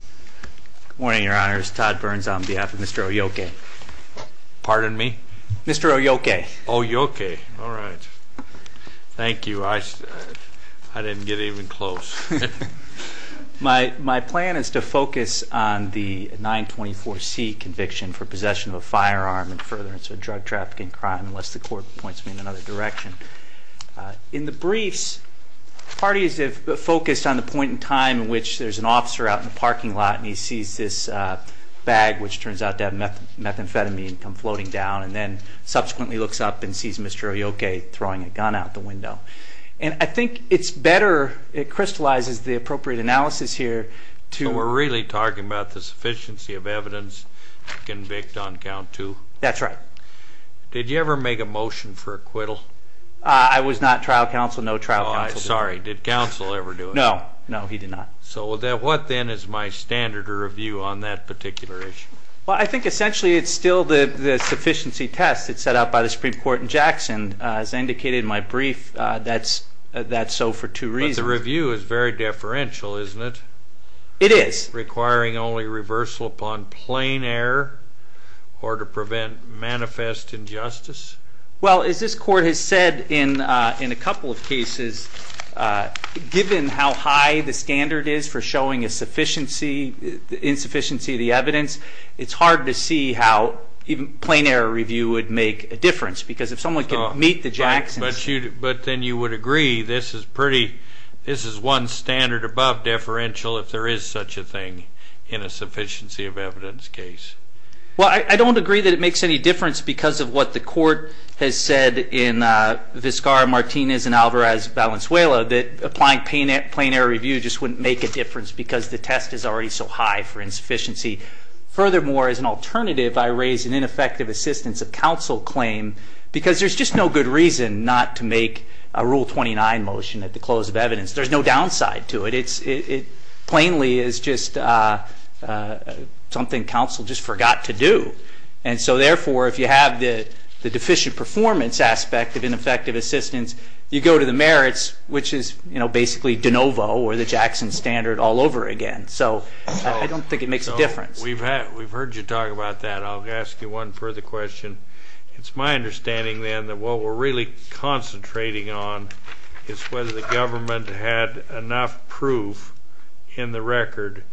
Good morning, your honors. Todd Burns on behalf of Mr. Olloque. Pardon me? Mr. Olloque. Olloque. All right. Thank you. I didn't get even close. My plan is to focus on the 924C conviction for possession of a firearm and furtherance of a drug trafficking crime, unless the court points me in another direction. In the briefs, parties have focused on the point in time in which there's an officer out in the parking lot and he sees this bag which turns out to have methamphetamine come floating down and then subsequently looks up and sees Mr. Olloque throwing a gun out the window. I think it's better, it crystallizes the appropriate analysis here So we're really talking about the sufficiency of evidence to convict on count two? That's right. Did you ever make a motion for acquittal? I was not trial counsel, no trial counsel did. Oh, I'm sorry. Did counsel ever do it? No, no he did not. So what then is my standard of review on that particular issue? Well, I think essentially it's still the sufficiency test that's set out by the Supreme Court in Jackson as indicated in my brief, that's so for two reasons. But the review is very deferential, isn't it? It is. Requiring only reversal upon plain error or to prevent manifest injustice? Well, as this court has said in a couple of cases, given how high the standard is for showing a sufficiency, insufficiency of the evidence it's hard to see how even plain error review would make a difference because if someone could meet the Jackson... But then you would agree this is pretty, this is one standard above deferential if there is such a thing in a sufficiency of evidence case. Well, I don't agree that it makes any difference because of what the court has said in Vizcarra-Martinez and Alvarez-Valenzuela that applying plain error review just wouldn't make a difference because the test is already so high for insufficiency. Furthermore, as an alternative, I raise an ineffective assistance of counsel claim because there's just no good reason not to make a Rule 29 motion at the close of evidence. There's no downside to it. It plainly is just something counsel just forgot to do. And so therefore, if you have the deficient performance aspect of ineffective assistance, you go to the merits, which is basically de novo or the Jackson standard all over again. So I don't think it makes a difference. We've heard you talk about that. I'll ask you one further question. It's my understanding then that what we're really concentrating on is whether the government had enough proof in the record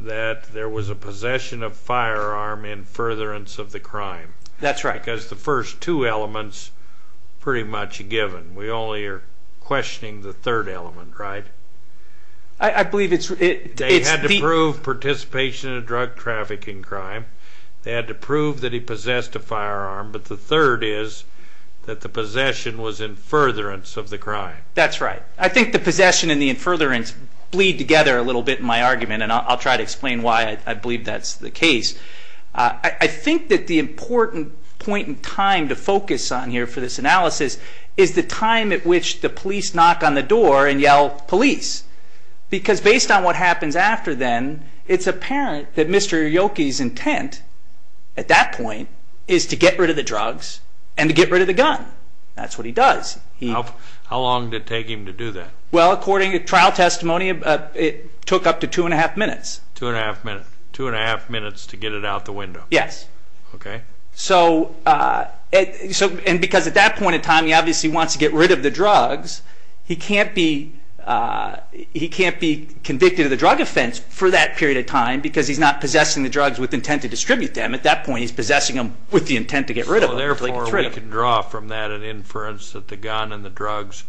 that there was a possession of firearm in furtherance of the crime. Because the first two elements are pretty much given. We only are questioning the third element, right? They had to prove participation in a drug trafficking crime. They had to prove that he possessed a firearm. But the third is that the possession was in furtherance of the crime. That's right. I think the possession and the in furtherance bleed together a little bit in my argument, and I'll try to explain why I believe that's the important point in time to focus on here for this analysis is the time at which the police knock on the door and yell police. Because based on what happens after then, it's apparent that Mr. Yoki's intent at that point is to get rid of the drugs and to get rid of the gun. That's what he does. How long did it take him to do that? Well, according to trial testimony, it took up to two and a half minutes. Two and a half minutes to get it out the window? Yes. And because at that point in time, he obviously wants to get rid of the drugs, he can't be convicted of the drug offense for that period of time because he's not possessing the drugs with intent to distribute them. At that point, he's possessing them with the intent to get rid of them. So therefore, we can draw from that an inference that the gun and the drugs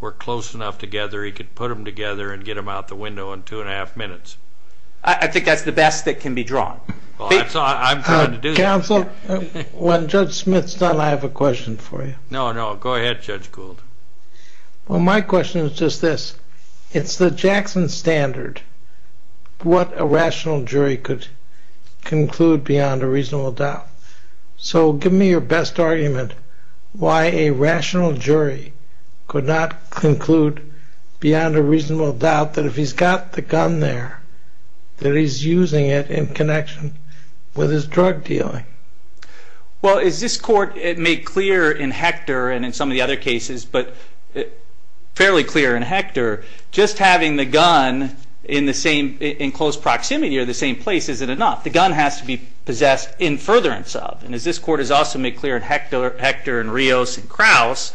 were close enough together he could put them together and get them out the window in two and a half minutes. I think that's the best that can be drawn. Counsel, when Judge Smith's done, I have a question for you. No, no. Go ahead, Judge Gould. Well, my question is just this. It's the Jackson Standard what a rational jury could conclude beyond a reasonable doubt. So give me your best argument why a rational jury could not conclude beyond a reasonable doubt that if he's got the gun there, that he's using it in connection with his drug dealing. Well, as this court made clear in Hector and in some of the other cases, but fairly clear in Hector, just having the gun in close proximity or the same place isn't enough. The gun has to be possessed in furtherance of. And as this court has also made clear in Hector and Rios and Kraus,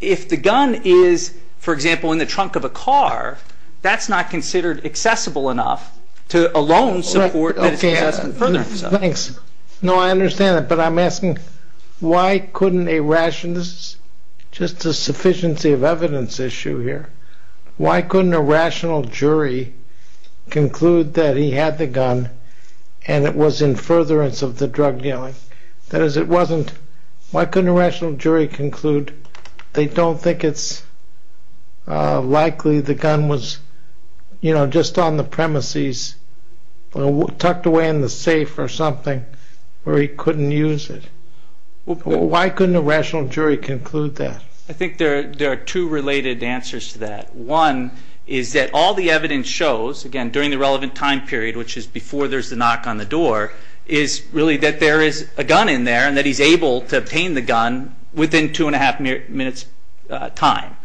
if the gun is for example in the trunk of a car, that's not considered accessible enough to alone support that it's possessed in furtherance of. Thanks. No, I understand that. But I'm asking why couldn't a rational, this is just a sufficiency of evidence issue here, why couldn't a rational jury conclude that he had the gun and it was in furtherance of the drug dealing? That is, it wasn't, why couldn't a rational jury conclude they don't think it's likely the gun was, you know, just on the premises tucked away in the safe or something where he couldn't use it? Why couldn't a rational jury conclude that? I think there are two related answers to that. One is that all the evidence shows, again during the relevant time period, which is before there's the knock on the door, is really that there is a gun in there and that he's able to use it within a half minute's time.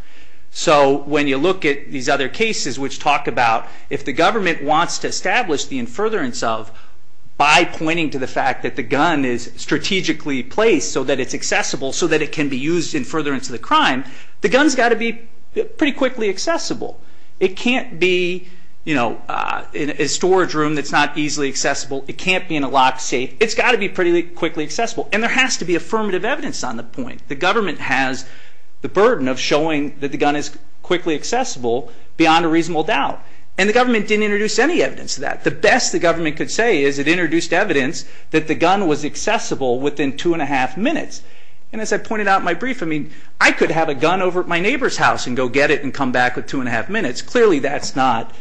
So when you look at these other cases which talk about if the government wants to establish the in furtherance of by pointing to the fact that the gun is strategically placed so that it's accessible so that it can be used in furtherance of the crime, the gun's got to be pretty quickly accessible. It can't be, you know, in a storage room that's not easily accessible. It can't be in a locked safe. It's got to be pretty quickly accessible. And there has to be the burden of showing that the gun is quickly accessible beyond a reasonable doubt. And the government didn't introduce any evidence of that. The best the government could say is it introduced evidence that the gun was accessible within two and a half minutes. And as I pointed out in my brief, I mean, I could have a gun over at my neighbor's house and go get it and come back with two and a half minutes. Clearly that's not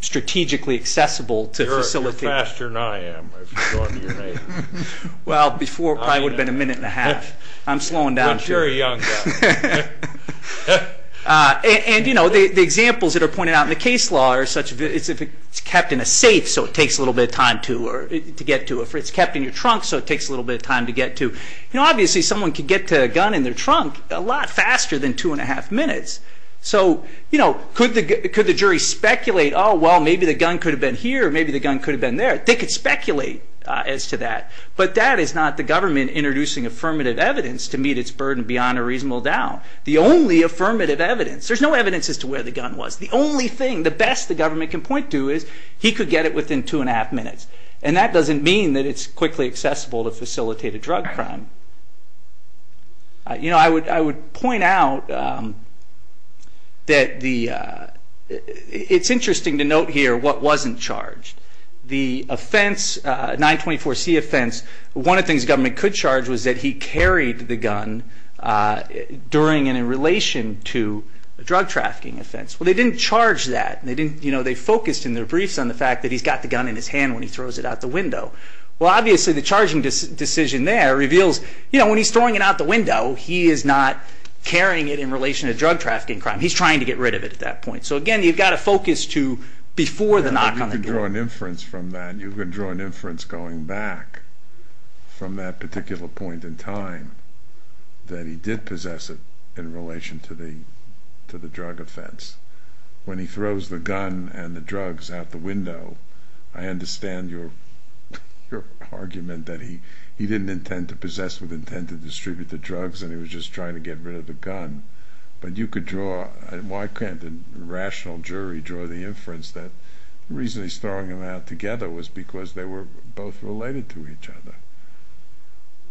strategically accessible to facilitate. You're faster than I am. Well, before it probably would have been a minute and a half. I'm slowing down. And, you know, the examples that are pointed out in the case law are such as if it's kept in a safe so it takes a little bit of time to get to. If it's kept in your trunk so it takes a little bit of time to get to. You know, obviously someone could get to a gun in their trunk a lot faster than two and a half minutes. So, you know, could the jury speculate, oh, well, maybe the gun could have been here or maybe the gun could have been there. They could speculate as to that. But that is not the government introducing affirmative evidence to meet its burden beyond a reasonable doubt. The only affirmative evidence, there's no evidence as to where the gun was. The only thing, the best the government can point to is he could get it within two and a half minutes. And that doesn't mean that it's quickly accessible to facilitate a drug crime. You know, I would point out that the, it's interesting to note here what wasn't charged. The offense, 924C offense, one of the things the government could charge was that he carried the gun during and in relation to a drug trafficking offense. Well, they didn't charge that. They didn't, you know, they focused in their briefs on the fact that he's got the gun in his hand when he throws it out the window. Well, obviously the charging decision there reveals, you know, when he's throwing it out the window, he is not carrying it in relation to drug trafficking crime. He's trying to get rid of it at that point. So again, you've got to focus to before the knock on the door. You can draw an inference from that. You can draw an inference going back from that particular point in time that he did possess it in relation to the drug offense. When he throws the gun and the drugs out the window, I understand your argument that he didn't intend to possess with intent to distribute the drugs and he was just trying to get rid of the gun. But you could draw, why can't the rational jury draw the inference that the reason he's throwing them out together was because they were both related to each other?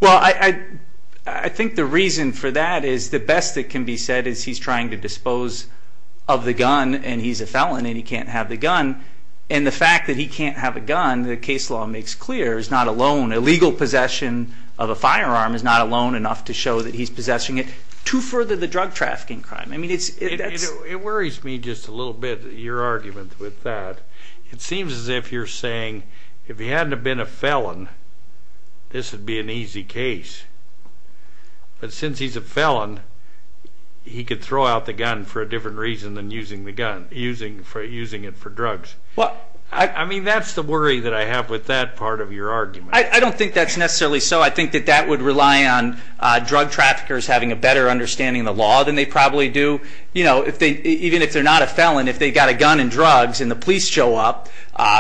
Well, I think the reason for that is the best that can be said is he's trying to dispose of the gun and he's a felon and he can't have the gun. And the fact that he can't have a gun, the case law makes clear, is not alone. Illegal possession of a firearm is not alone enough to show that he's possessing it to further the drug trafficking crime. It worries me just a little bit, your argument with that. It seems as if you're saying, if he hadn't have been a felon, this would be an easy case. But since he's a felon, he could throw out the gun for a different reason than using the gun, using it for drugs. I mean, that's the worry that I have with that part of your argument. I don't think that's necessarily so. I think that would rely on drug traffickers having a better understanding of the law than they probably do. Even if they're not a felon, if they've got a gun and drugs and the police show up,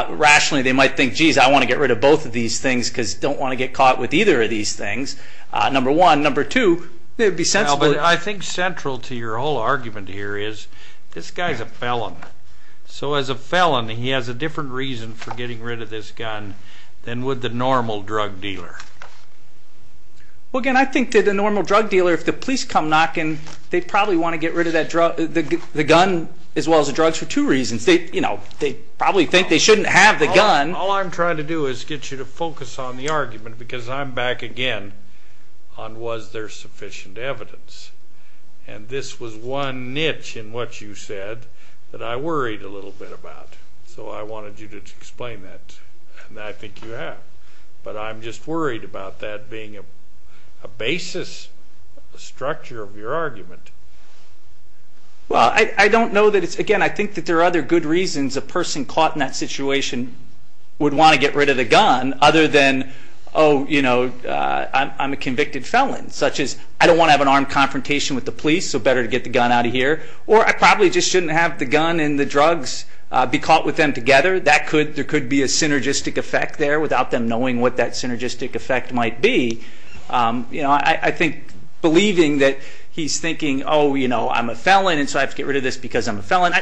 rationally they might think, geez, I want to get rid of both of these things because I don't want to get caught with either of these things. Number one. Number two, it would be sensible. I think central to your whole argument here is, this guy's a felon. So as a felon, he has a different reason for getting rid of this gun than would the normal drug dealer. Well, again, I think that the normal drug dealer, if the police come knocking, they'd probably want to get rid of the gun as well as the drugs for two reasons. They probably think they shouldn't have the gun. All I'm trying to do is get you to focus on the argument because I'm back again on was there sufficient evidence. And this was one niche in what you said that I worried a little bit about. So I wanted you to explain that. And I think you have. But I'm just worried about that being a basis, a structure of your argument. Well, I don't know that it's, again, I think that there are other good reasons a person caught in that situation would want to get rid of the gun other than, oh, you know, I'm a convicted felon. Such as, I don't want to have an armed confrontation with the police, so better to get the gun out of here. Or I probably just shouldn't have the gun and the drugs be caught with them together. There could be a synergistic effect there without them knowing what that synergistic effect might be. I think believing that he's thinking, oh, you know, I'm a felon and so I have to get rid of this because I'm a felon.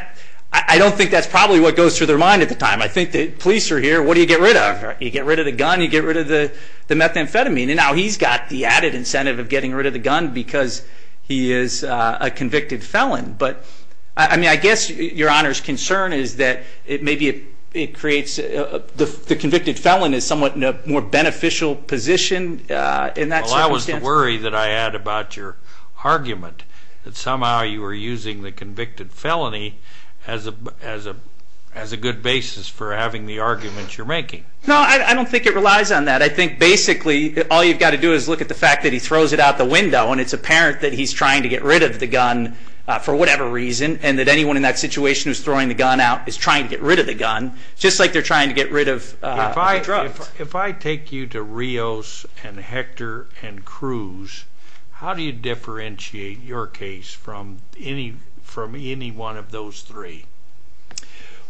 I don't think that's probably what goes through their mind at the time. I think the police are here, what do you get rid of? You get rid of the gun, you get rid of the methamphetamine. And now he's got the added incentive of getting rid of the gun because he is a convicted felon. But I mean, I guess your Honor's it creates, the convicted felon is somewhat in a more beneficial position in that circumstance. Well, that was the worry that I had about your argument. That somehow you were using the convicted felony as a good basis for having the arguments you're making. No, I don't think it relies on that. I think basically all you've got to do is look at the fact that he throws it out the window and it's apparent that he's trying to get rid of the gun for whatever reason. And that anyone in that situation who's trying to get rid of the gun, just like they're trying to get rid of the drugs. If I take you to Rios and Hector and Cruz, how do you differentiate your case from any one of those three?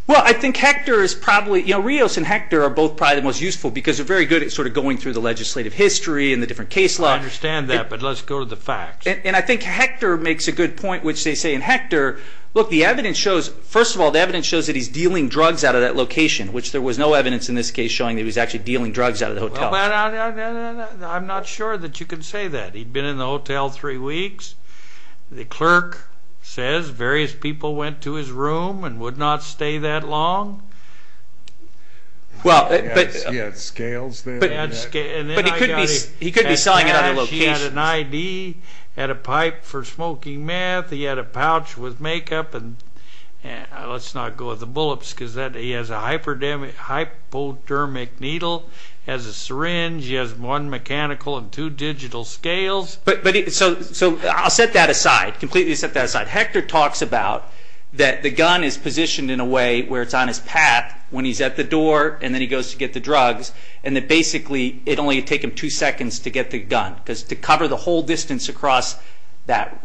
Well, I think Hector is probably, you know, Rios and Hector are both probably the most useful because they're very good at sort of going through the legislative history and the different case law. I understand that, but let's go to the facts. And I think Hector makes a good point, which they say in Hector, look, the evidence shows that he's dealing drugs out of that location, which there was no evidence in this case showing that he was actually dealing drugs out of the hotel. I'm not sure that you can say that. He'd been in the hotel three weeks. The clerk says various people went to his room and would not stay that long. He had scales there. But he could be selling it at other locations. He had an ID. He had a pipe for smoking meth. He had a pouch with makeup. And let's not go with the bullets because he has a hypodermic needle. He has a syringe. He has one mechanical and two digital scales. So I'll set that aside. Completely set that aside. Hector talks about that the gun is positioned in a way where it's on his path when he's at the door and then he goes to get the drugs. And that basically it only would take him two seconds to get the gun because to cover the whole distance across that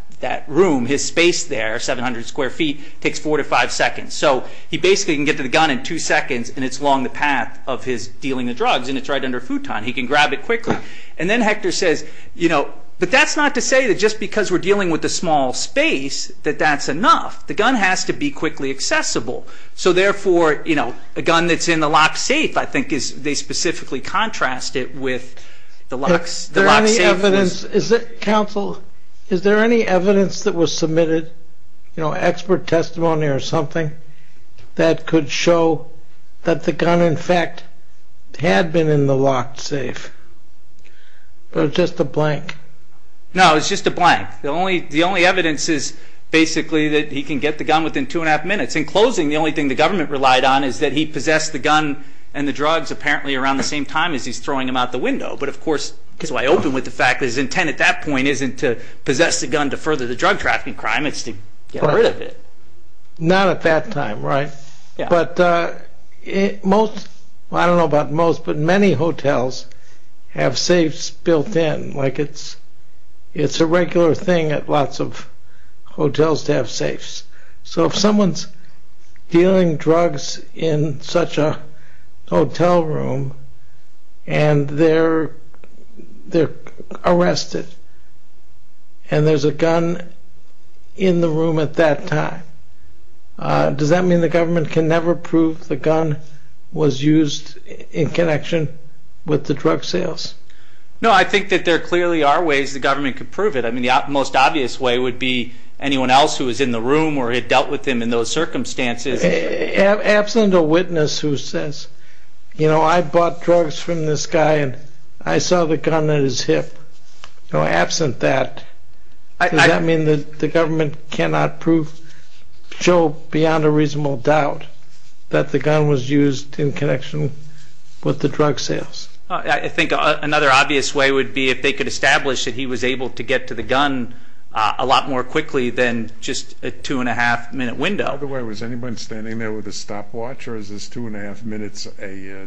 room, his space there, 700 square feet, takes four to five seconds. So he basically can get to the gun in two seconds and it's along the path of his dealing the drugs and it's right under a futon. He can grab it quickly. And then Hector says but that's not to say that just because we're dealing with a small space that that's enough. The gun has to be quickly accessible. So therefore a gun that's in the lock safe, I think, they specifically contrast it with the lock safe. Counsel, is there any evidence that was submitted expert testimony or something that could show that the gun in fact had been in the lock safe or just a blank? No, it's just a blank. The only evidence is basically that he can get the gun within two and a half minutes. In closing, the only thing the government relied on is that he possessed the gun and the drugs apparently around the same time as he's throwing them out the window. But of course, I open with the fact that his intent at that point isn't to possess the gun to further the drug trafficking crime, it's to get rid of it. Not at that time, right? I don't know about most, but many hotels have safes built in. It's a regular thing at lots of hotels to have safes. So if someone's dealing drugs in such a hotel room and they're arrested and there's a gun in the room at that time, does that mean the government can never prove the gun was used in connection with the drug sales? No, I think that there clearly are ways the government could prove it. I mean, the most obvious way would be anyone else who was in the room or had dealt with him in those circumstances. Absent a witness who says, you know, I bought drugs from this guy and I saw the gun on his hip. Absent that, does that mean the government cannot prove, show beyond a reasonable doubt that the gun was used in connection with the drug sales? I think another obvious way would be if they could establish that he was able to get to the gun a lot more quickly than just a two and a half minute window. By the way, was anyone standing there with a stopwatch or is this two and a half minutes,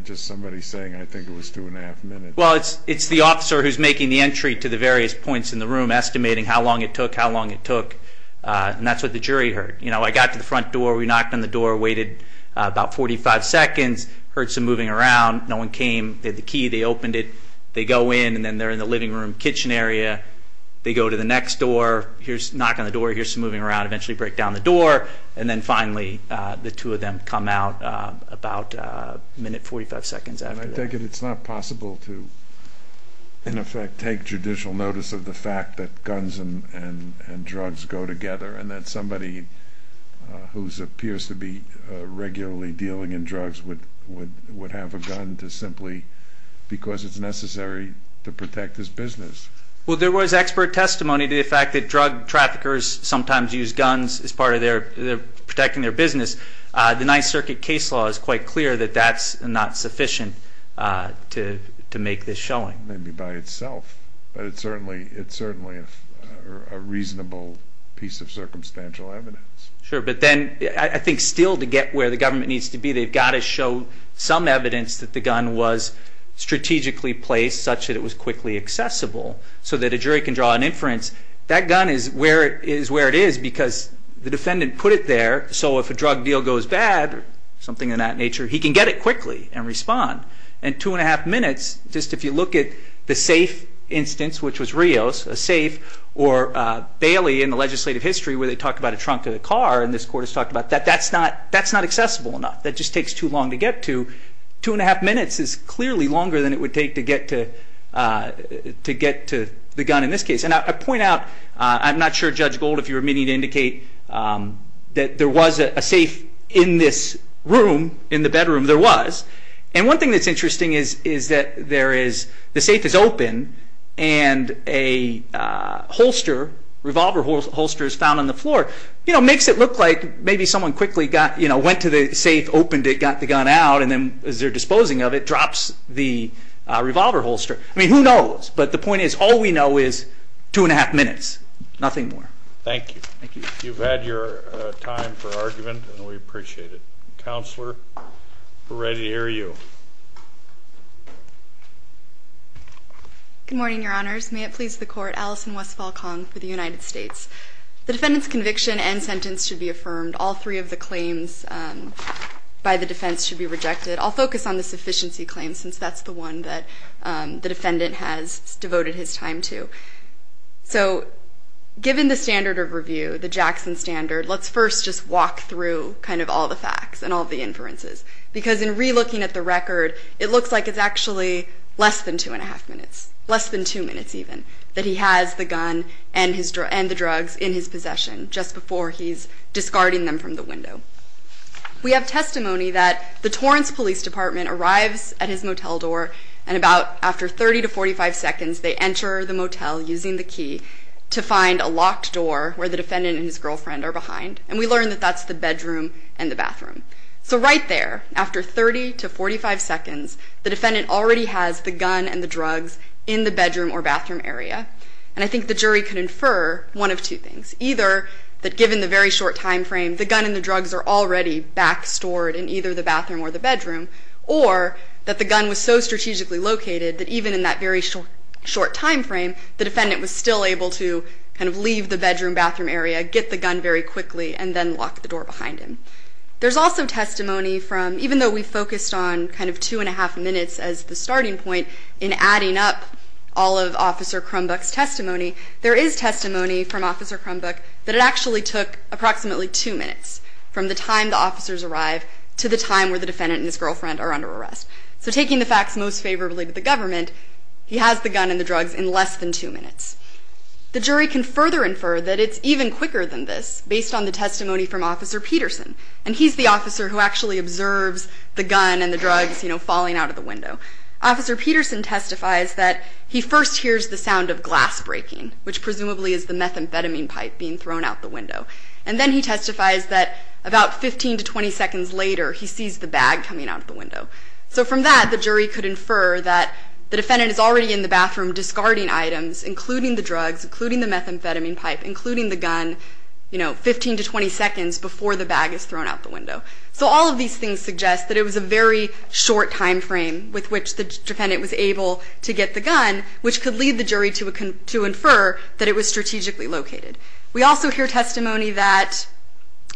just somebody saying I think it was two and a half minutes? Well, it's the officer who's making the entry to the various points in the room, estimating how long it took, how long it took, and that's what the jury heard. You know, I got to the front door, we knocked on the door, waited about 45 seconds, heard some moving around, no one came, they had the key, they opened it, they go in and then they're in the living room, kitchen area, they go to the next door, knock on the door, here's some moving around, eventually break down the door and then finally the two of them come out about a minute, 45 seconds after that. And I take it it's not possible to in effect take judicial notice of the fact that guns and drugs go together and that somebody who appears to be regularly dealing in drugs would have a gun to simply, because it's necessary to protect his business. Well, there was expert testimony to the fact that drug traffickers sometimes use guns as part of their, protecting their business. The Ninth Circuit case law is quite clear that that's not sufficient to make this showing. Maybe by itself, but it's certainly a reasonable piece of circumstantial evidence. Sure, but then I think still to get where the government needs to be they've got to show some evidence that the gun was strategically placed such that it was quickly accessible so that a jury can draw an inference. That gun is where it is because the defendant put it there so if a drug deal goes bad or something of that nature, he can get it quickly and respond. And two and a half minutes, just if you look at the safe instance, which was Rios, a safe, or Bailey in the legislative history where they talk about a trunk of a car and this Court has talked about that, that's not accessible enough. That just takes too long to get to. Two and a half minutes is clearly longer than it would take to get to the gun in this case. And I point out, I'm not sure Judge Gold, if you were meeting to indicate that there was a safe in this room, in the bedroom, there was. And one thing that's interesting is that there is, the safe is open and a holster, revolver holster is found on the floor. Makes it look like maybe someone quickly went to the safe, opened it, got the gun out, and then as they're disposing of it, drops the revolver holster. I mean, who knows? But the point is, all we know is two and a half minutes. Nothing more. Thank you. Thank you. You've had your time for argument and we appreciate it. Counselor, we're ready to hear you. Good morning, Your Honors. May it please the Court, Alison Westfall Kong for the United States. The defendant's conviction and sentence should be affirmed. All three of the claims by the defense should be rejected. I'll focus on the sufficiency claims since that's the one that the defendant has devoted his time to. So, given the standard of review, the Jackson Standard, let's first just walk through kind of all the facts and all the inferences. Because in re-looking at the record, it looks like it's actually less than two and a half minutes. Less than two minutes, even. That he has the gun and the drugs in his possession just before he's discarding them from the window. We have testimony that the defendant is at his motel door and about after 30 to 45 seconds, they enter the motel using the key to find a locked door where the defendant and his girlfriend are behind. And we learn that that's the bedroom and the bathroom. So right there, after 30 to 45 seconds, the defendant already has the gun and the drugs in the bedroom or bathroom area. And I think the jury could infer one of two things. Either that given the very short time frame, the gun and the drugs are already back stored in either the bathroom or the bedroom. Or that the gun was so strategically located that even in that very short time frame, the defendant was still able to kind of leave the bedroom, bathroom area, get the gun very quickly, and then lock the door behind him. There's also testimony from, even though we focused on kind of two and a half minutes as the starting point in adding up all of Officer Crumbuck's testimony, there is testimony from Officer Crumbuck that it actually took approximately two minutes from the time the defendant and his girlfriend are under arrest. So taking the facts most favorably to the government, he has the gun and the drugs in less than two minutes. The jury can further infer that it's even quicker than this, based on the testimony from Officer Peterson. And he's the officer who actually observes the gun and the drugs falling out of the window. Officer Peterson testifies that he first hears the sound of glass breaking, which presumably is the methamphetamine pipe being thrown out the window. And then he testifies that about 15 to 20 seconds later, he sees the bag coming out the window. So from that, the jury could infer that the defendant is already in the bathroom discarding items including the drugs, including the methamphetamine pipe, including the gun 15 to 20 seconds before the bag is thrown out the window. So all of these things suggest that it was a very short time frame with which the defendant was able to get the gun, which could lead the jury to infer that it was strategically located. We also hear testimony that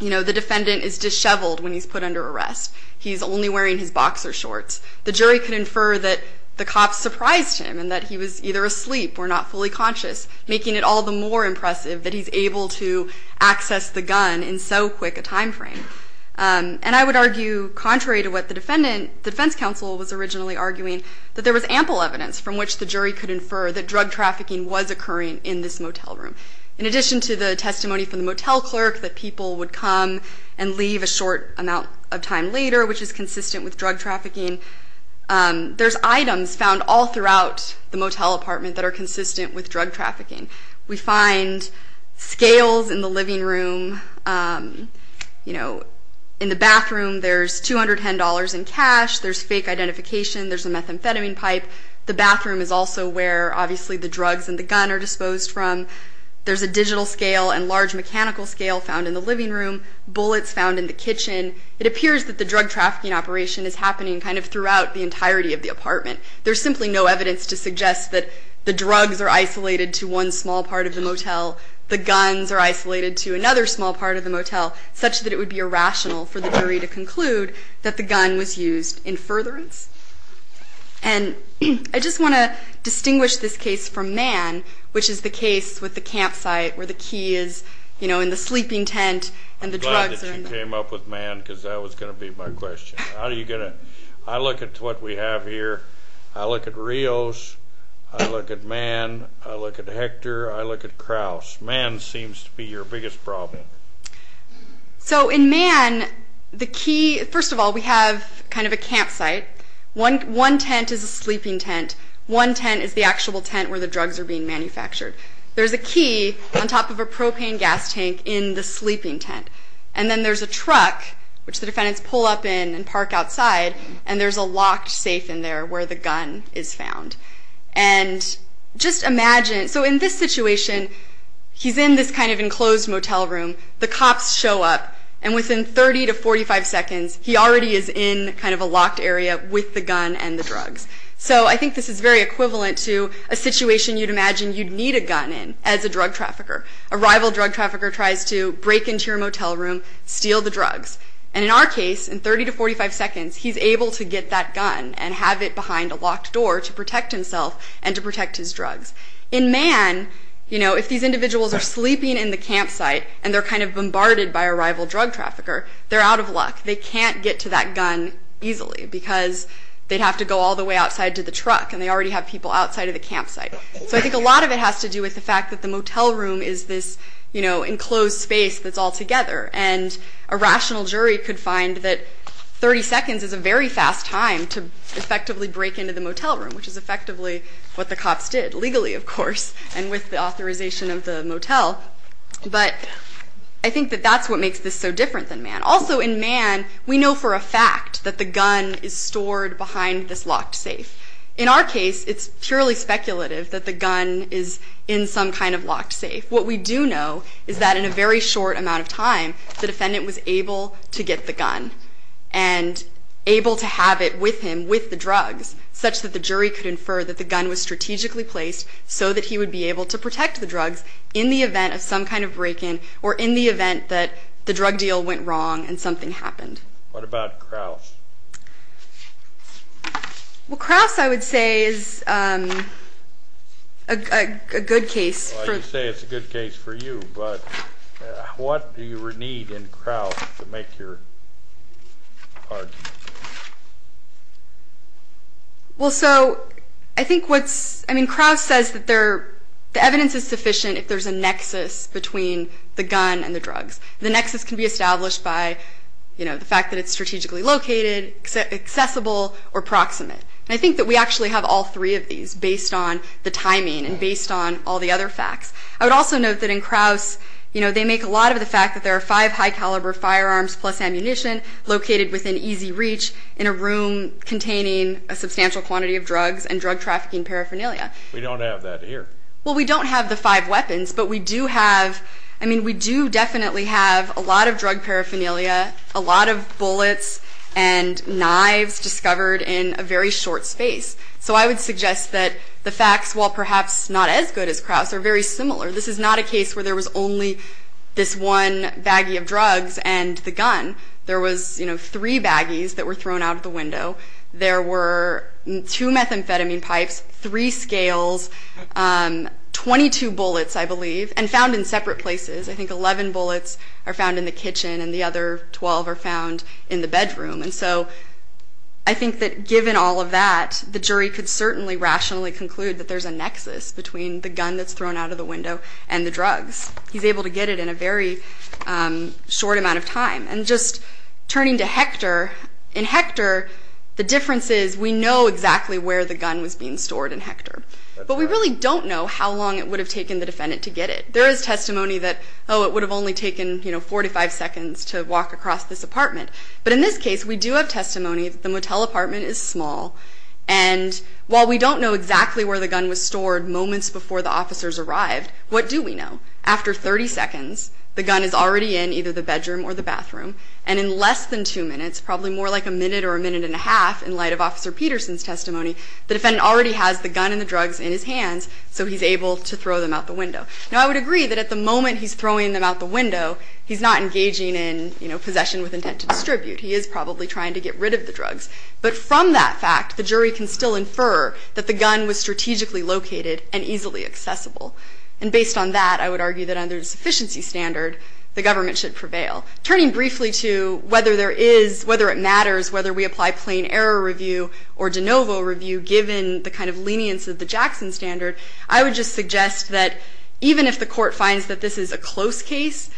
the defendant is disheveled when he's put under arrest. He's only wearing his boxer shorts. The jury could infer that the cops surprised him and that he was either asleep or not fully conscious, making it all the more impressive that he's able to access the gun in so quick a time frame. And I would argue, contrary to what the defense counsel was originally arguing, that there was ample evidence from which the jury could infer that drug trafficking was occurring in this motel room. In addition to the testimony from the motel clerk that people would come and leave a short amount of time later, which is consistent with drug trafficking, there's items found all throughout the motel apartment that are consistent with drug trafficking. We find scales in the living room. In the bathroom, there's $210 in cash. There's fake identification. There's a methamphetamine pipe. The bathroom is also where, obviously, the drugs and the gun are disposed from. There's a digital scale and large mechanical scale found in the living room. Bullets found in the kitchen. It appears that the drug trafficking operation is happening kind of throughout the entirety of the apartment. There's simply no evidence to suggest that the drugs are isolated to one small part of the motel. The guns are isolated to another small part of the motel, such that it would be irrational for the jury to conclude that the gun was used in furtherance. And I just want to distinguish this case from Mann, which is the case with the campsite where the key is in the sleeping tent and the drugs are in the... I'm glad that you came up with Mann because that was going to be my question. I look at what we have here. I look at Rios. I look at Mann. I look at Hector. I look at Krauss. Mann seems to be your biggest problem. So in Mann, the key... First of all, we have kind of a campsite. One tent is a sleeping tent. One tent is the actual tent where the drugs are being manufactured. There's a key on top of a propane gas tank in the sleeping tent. And then there's a truck, which the defendants pull up in and park outside, and there's a locked safe in there where the gun is found. And just imagine... So in this situation, he's in this kind of enclosed motel room. The cops show up, and within 30 to 45 seconds, he already is in kind of a locked area with the gun and the drugs. So I think this is very equivalent to a situation you'd imagine you'd need a gun in as a drug trafficker. A rival drug trafficker tries to break into your motel room, steal the drugs. And in our case, in 30 to 45 seconds, he's able to get that gun and have it behind a locked door to protect himself and to protect his drugs. In Mann, if these individuals are sleeping in the campsite and they're kind of bombarded by a rival drug trafficker, they're out of luck. They can't get to that gun easily, because they'd have to go all the way outside to the truck, and they already have people outside of the campsite. So I think a lot of it has to do with the fact that the motel room is this enclosed space that's all together. And a rational jury could find that 30 seconds is a very fast time to effectively break into the motel room, which is effectively what the cops did, legally, of course, and with the authorization of the motel. But I think that that's what makes this so different than Mann. Also, in Mann, we know for a fact that the gun is stored behind this locked safe. In our case, it's purely speculative that the gun is in some kind of locked safe. What we do know is that in a very short amount of time, the defendant was able to get the gun and able to have it with him, with the drugs, such that the jury could infer that the gun was strategically placed so that he would be able to protect the drugs in the event of some kind of break-in or in the event that the drug deal went wrong and something happened. What about Krauss? Krauss, I would say, is a good case. You say it's a good case for you, but what do you need in Krauss to make your argument? Well, so, I think what's...I mean, Krauss says that the evidence is sufficient if there's a nexus between the gun and the drugs. The nexus can be established by the fact that it's strategically located, accessible, or proximate. I think that we actually have all three of these based on the timing and based on all the other facts. I would also note that in Krauss, they make a lot of the fact that there are five high-caliber firearms plus ammunition located within easy reach in a room containing a substantial quantity of drugs and drug-trafficking paraphernalia. We don't have that here. Well, we don't have the five high-caliber firearms. I mean, we do definitely have a lot of drug paraphernalia, a lot of bullets and knives discovered in a very short space. So I would suggest that the facts, while perhaps not as good as Krauss, are very similar. This is not a case where there was only this one baggie of drugs and the gun. There was, you know, three baggies that were thrown out of the window. There were two methamphetamine pipes, three scales, 22 bullets, I believe, and found in separate places. I think 11 bullets are found in the kitchen and the other 12 are found in the bedroom. And so I think that given all of that, the jury could certainly rationally conclude that there's a nexus between the gun that's thrown out of the window and the drugs. He's able to get it in a very short amount of time. And just turning to Hector, But we really don't know how long it would have taken the defendant to get it. There is testimony that, oh, it would have only taken, you know, 45 seconds to walk across this apartment. But in this case, we do have testimony that the Motel apartment is small. And while we don't know exactly where the gun was stored moments before the officers arrived, what do we know? After 30 seconds, the gun is already in either the bedroom or the bathroom. And in less than two minutes, probably more like a minute or a minute and a half, in light of Officer Peterson's testimony, the defendant already has the gun and the drugs in his hands, so he's able to throw them out the window. Now, I would agree that at the moment he's throwing them out the window, he's not engaging in, you know, possession with intent to distribute. He is probably trying to get rid of the drugs. But from that fact, the jury can still infer that the gun was strategically located and easily accessible. And based on that, I would argue that under the sufficiency standard, the government should prevail. Turning briefly to whether there is, whether it matters whether we apply plain error review or de novo review, given the kind of lenience of the Jackson standard, I would just suggest that even if the court finds that this is a close case,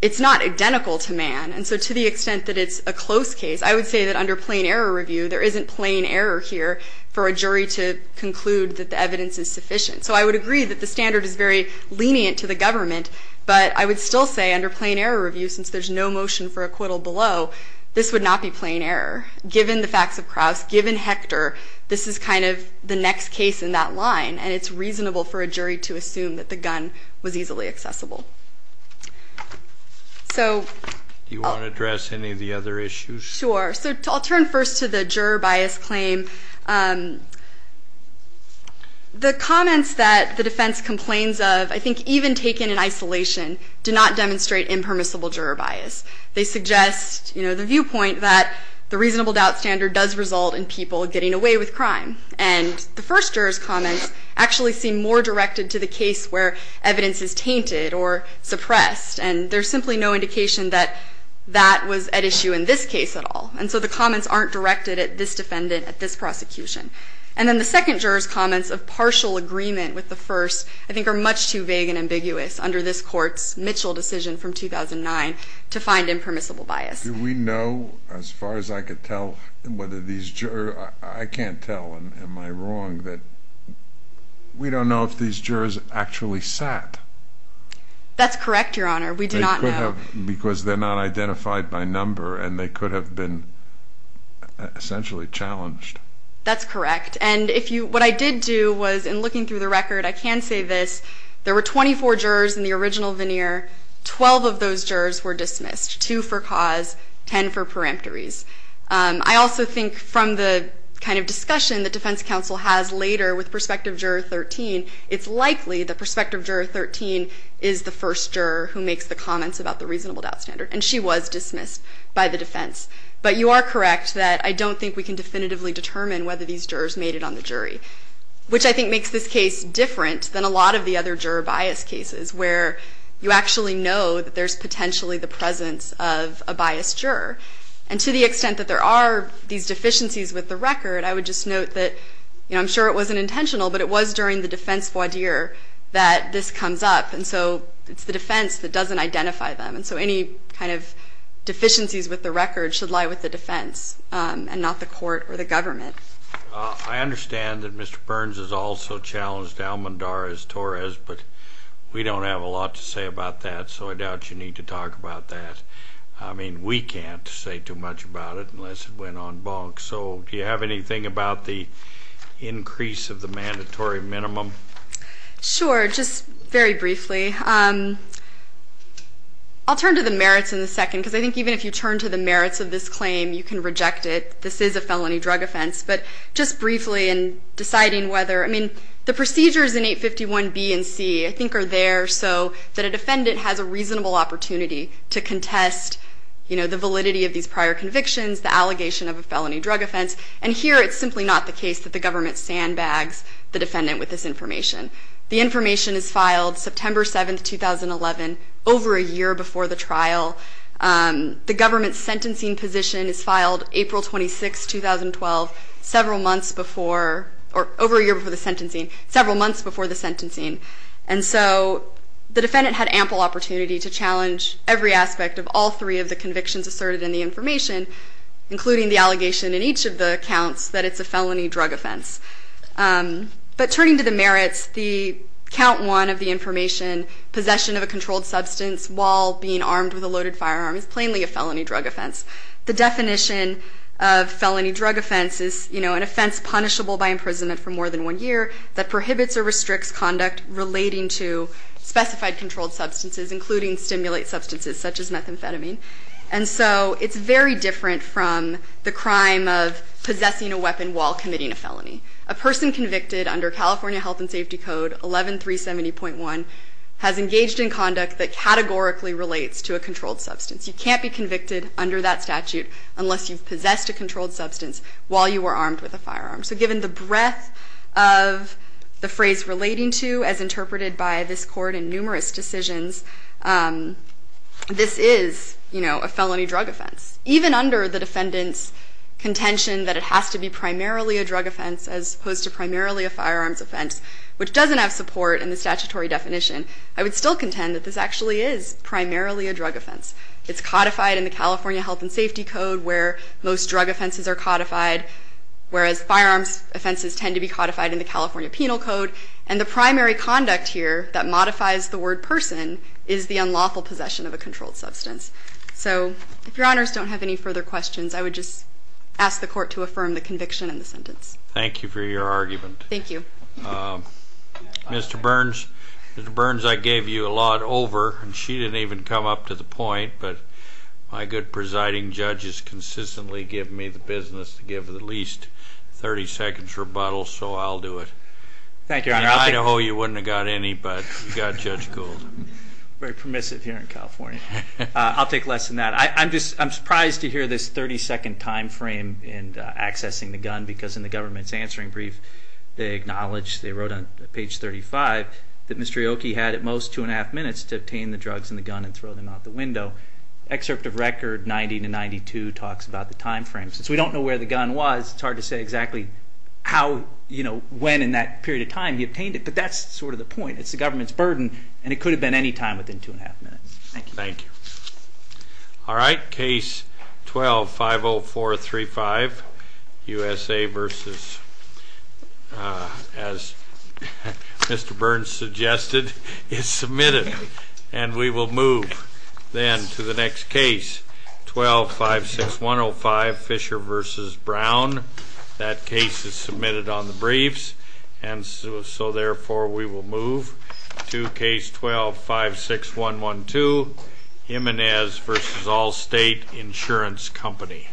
it's not identical to Mann. And so to the extent that it's a close case, I would say that under plain error review, there isn't plain error here for a jury to conclude that the evidence is sufficient. So I would agree that the standard is very lenient to the government, but I would still say under plain error review, since there's no motion for acquittal below, this would not be plain error. Given the facts of Krauss, given Hector, this is kind of the next case in that line, and it's reasonable for a jury to assume that the gun was easily accessible. Do you want to address any of the other issues? Sure. So I'll turn first to the juror bias claim. The comments that the defense complains of, I think even taken in isolation, do not demonstrate impermissible juror bias. They suggest the viewpoint that the reasonable doubt standard does result in people getting away with crime. And the first juror's comments actually seem more directed to the case where evidence is tainted or suppressed, and there's simply no indication that that was at issue in this case at all. And so the comments aren't directed at this defendant, at this prosecution. And then the second juror's comments of partial agreement with the first, I think are much too vague and ambiguous under this Court's Mitchell decision from 2009 to find impermissible bias. Do we know, as far as I can tell, whether these jurors, I can't tell, am I wrong, that we don't know if these jurors actually sat? That's correct, Your Honor. We do not know. Because they're not identified by number, and they could have been essentially challenged. That's correct. And what I did do was, in looking through the record, I can say this. There were 24 jurors in the original veneer. Twelve of those jurors were dismissed. Two for cause, ten for peremptories. I also think, from the kind of discussion that Defense Counsel has later with Prospective Juror 13, it's likely that Prospective Juror 13 is the first juror who makes the comments about the reasonable doubt standard. And she was dismissed by the defense. But you are correct that I don't think we can definitively determine whether these jurors made it on the jury, which I think makes this case different than a lot of the other juror bias cases, where you actually know that there's potentially the presence of a biased juror. And to the extent that there are these deficiencies with the record, I would just note that, you know, I'm sure it wasn't intentional, but it was during the defense voir dire that this comes up. And so it's the defense that doesn't identify them. And so any kind of deficiencies with the record should lie with the defense, and not the court or the government. I understand that Mr. Burns has also challenged Almondarez-Torres, but we don't have a lot to say about that, so I doubt you need to talk about that. I mean, we can't say too much about it unless it went on bonk. So do you have anything about the increase of the mandatory minimum? Sure, just very briefly. I'll turn to the merits in a second because I think even if you turn to the merits of this claim, you can reject it. This is a felony drug offense. But just briefly in deciding whether, I mean, the procedures in 851B and C I think are there so that a defendant has a reasonable opportunity to contest, you know, the validity of these prior convictions, the allegation of a felony drug offense. And here it's simply not the case that the government sandbags the defendant with this information. The information is filed September 7, 2011, over a year before the trial. The government's sentencing position is filed April 26, 2012, several months before or over a year before the sentencing, several months before the sentencing. And so the defendant had ample opportunity to challenge every aspect of all three of the convictions asserted in the information, including the allegation in each of the counts that it's a felony drug offense. But turning to the merits, the count one of the information, possession of a controlled substance while being armed with a loaded firearm is plainly a felony drug offense. The definition of felony drug offense is, you know, an offense punishable by imprisonment for more than one year that prohibits or restricts conduct relating to specified controlled substances, including stimulate substances such as methamphetamine. And so it's very different from the crime of possessing a weapon while committing a felony. A person convicted under California Health and Safety Code 11370.1 has engaged in conduct that categorically relates to a controlled substance. You can't be convicted under that statute unless you've while you were armed with a firearm. So given the breadth of the phrase relating to, as interpreted by this court in numerous decisions, this is, you know, a felony drug offense. Even under the defendant's contention that it has to be primarily a drug offense as opposed to primarily a firearms offense, which doesn't have support in the statutory definition, I would still contend that this actually is primarily a drug offense. It's codified in the California Health and Safety Code where most drug offenses are codified, whereas firearms offenses tend to be codified in the California Penal Code. And the primary conduct here that modifies the word person is the unlawful possession of a controlled substance. So if your honors don't have any further questions, I would just ask the court to affirm the conviction in the sentence. Thank you for your argument. Thank you. Mr. Burns, I gave you a lot over, and she didn't even come up to the point, but my good presiding judge has consistently given me the business to give at least 30 seconds rebuttal, so I'll do it. Thank you, your honor. I know you wouldn't have got any, but you got Judge Gould. Very permissive here in California. I'll take less than that. I'm surprised to hear this 30 second time frame in accessing the gun, because in the government's answering brief, they acknowledge, they wrote on page 35, that Mr. Ioki had at most two and a half minutes to obtain the drugs and the gun and throw them out the window. Excerpt of record 90-92 talks about the time frame. Since we don't know where the gun was, it's hard to say exactly how when in that period of time he obtained it, but that's sort of the point. It's the government's burden, and it could have been any time within two and a half minutes. Thank you. All right. Case 12-50435 USA versus as Mr. Burns suggested, is submitted. And we will move then to the next case, 12-56105 Fisher versus Brown. That case is submitted on the briefs, and so therefore we will move to case 12-56112 Jimenez versus Allstate Insurance Company.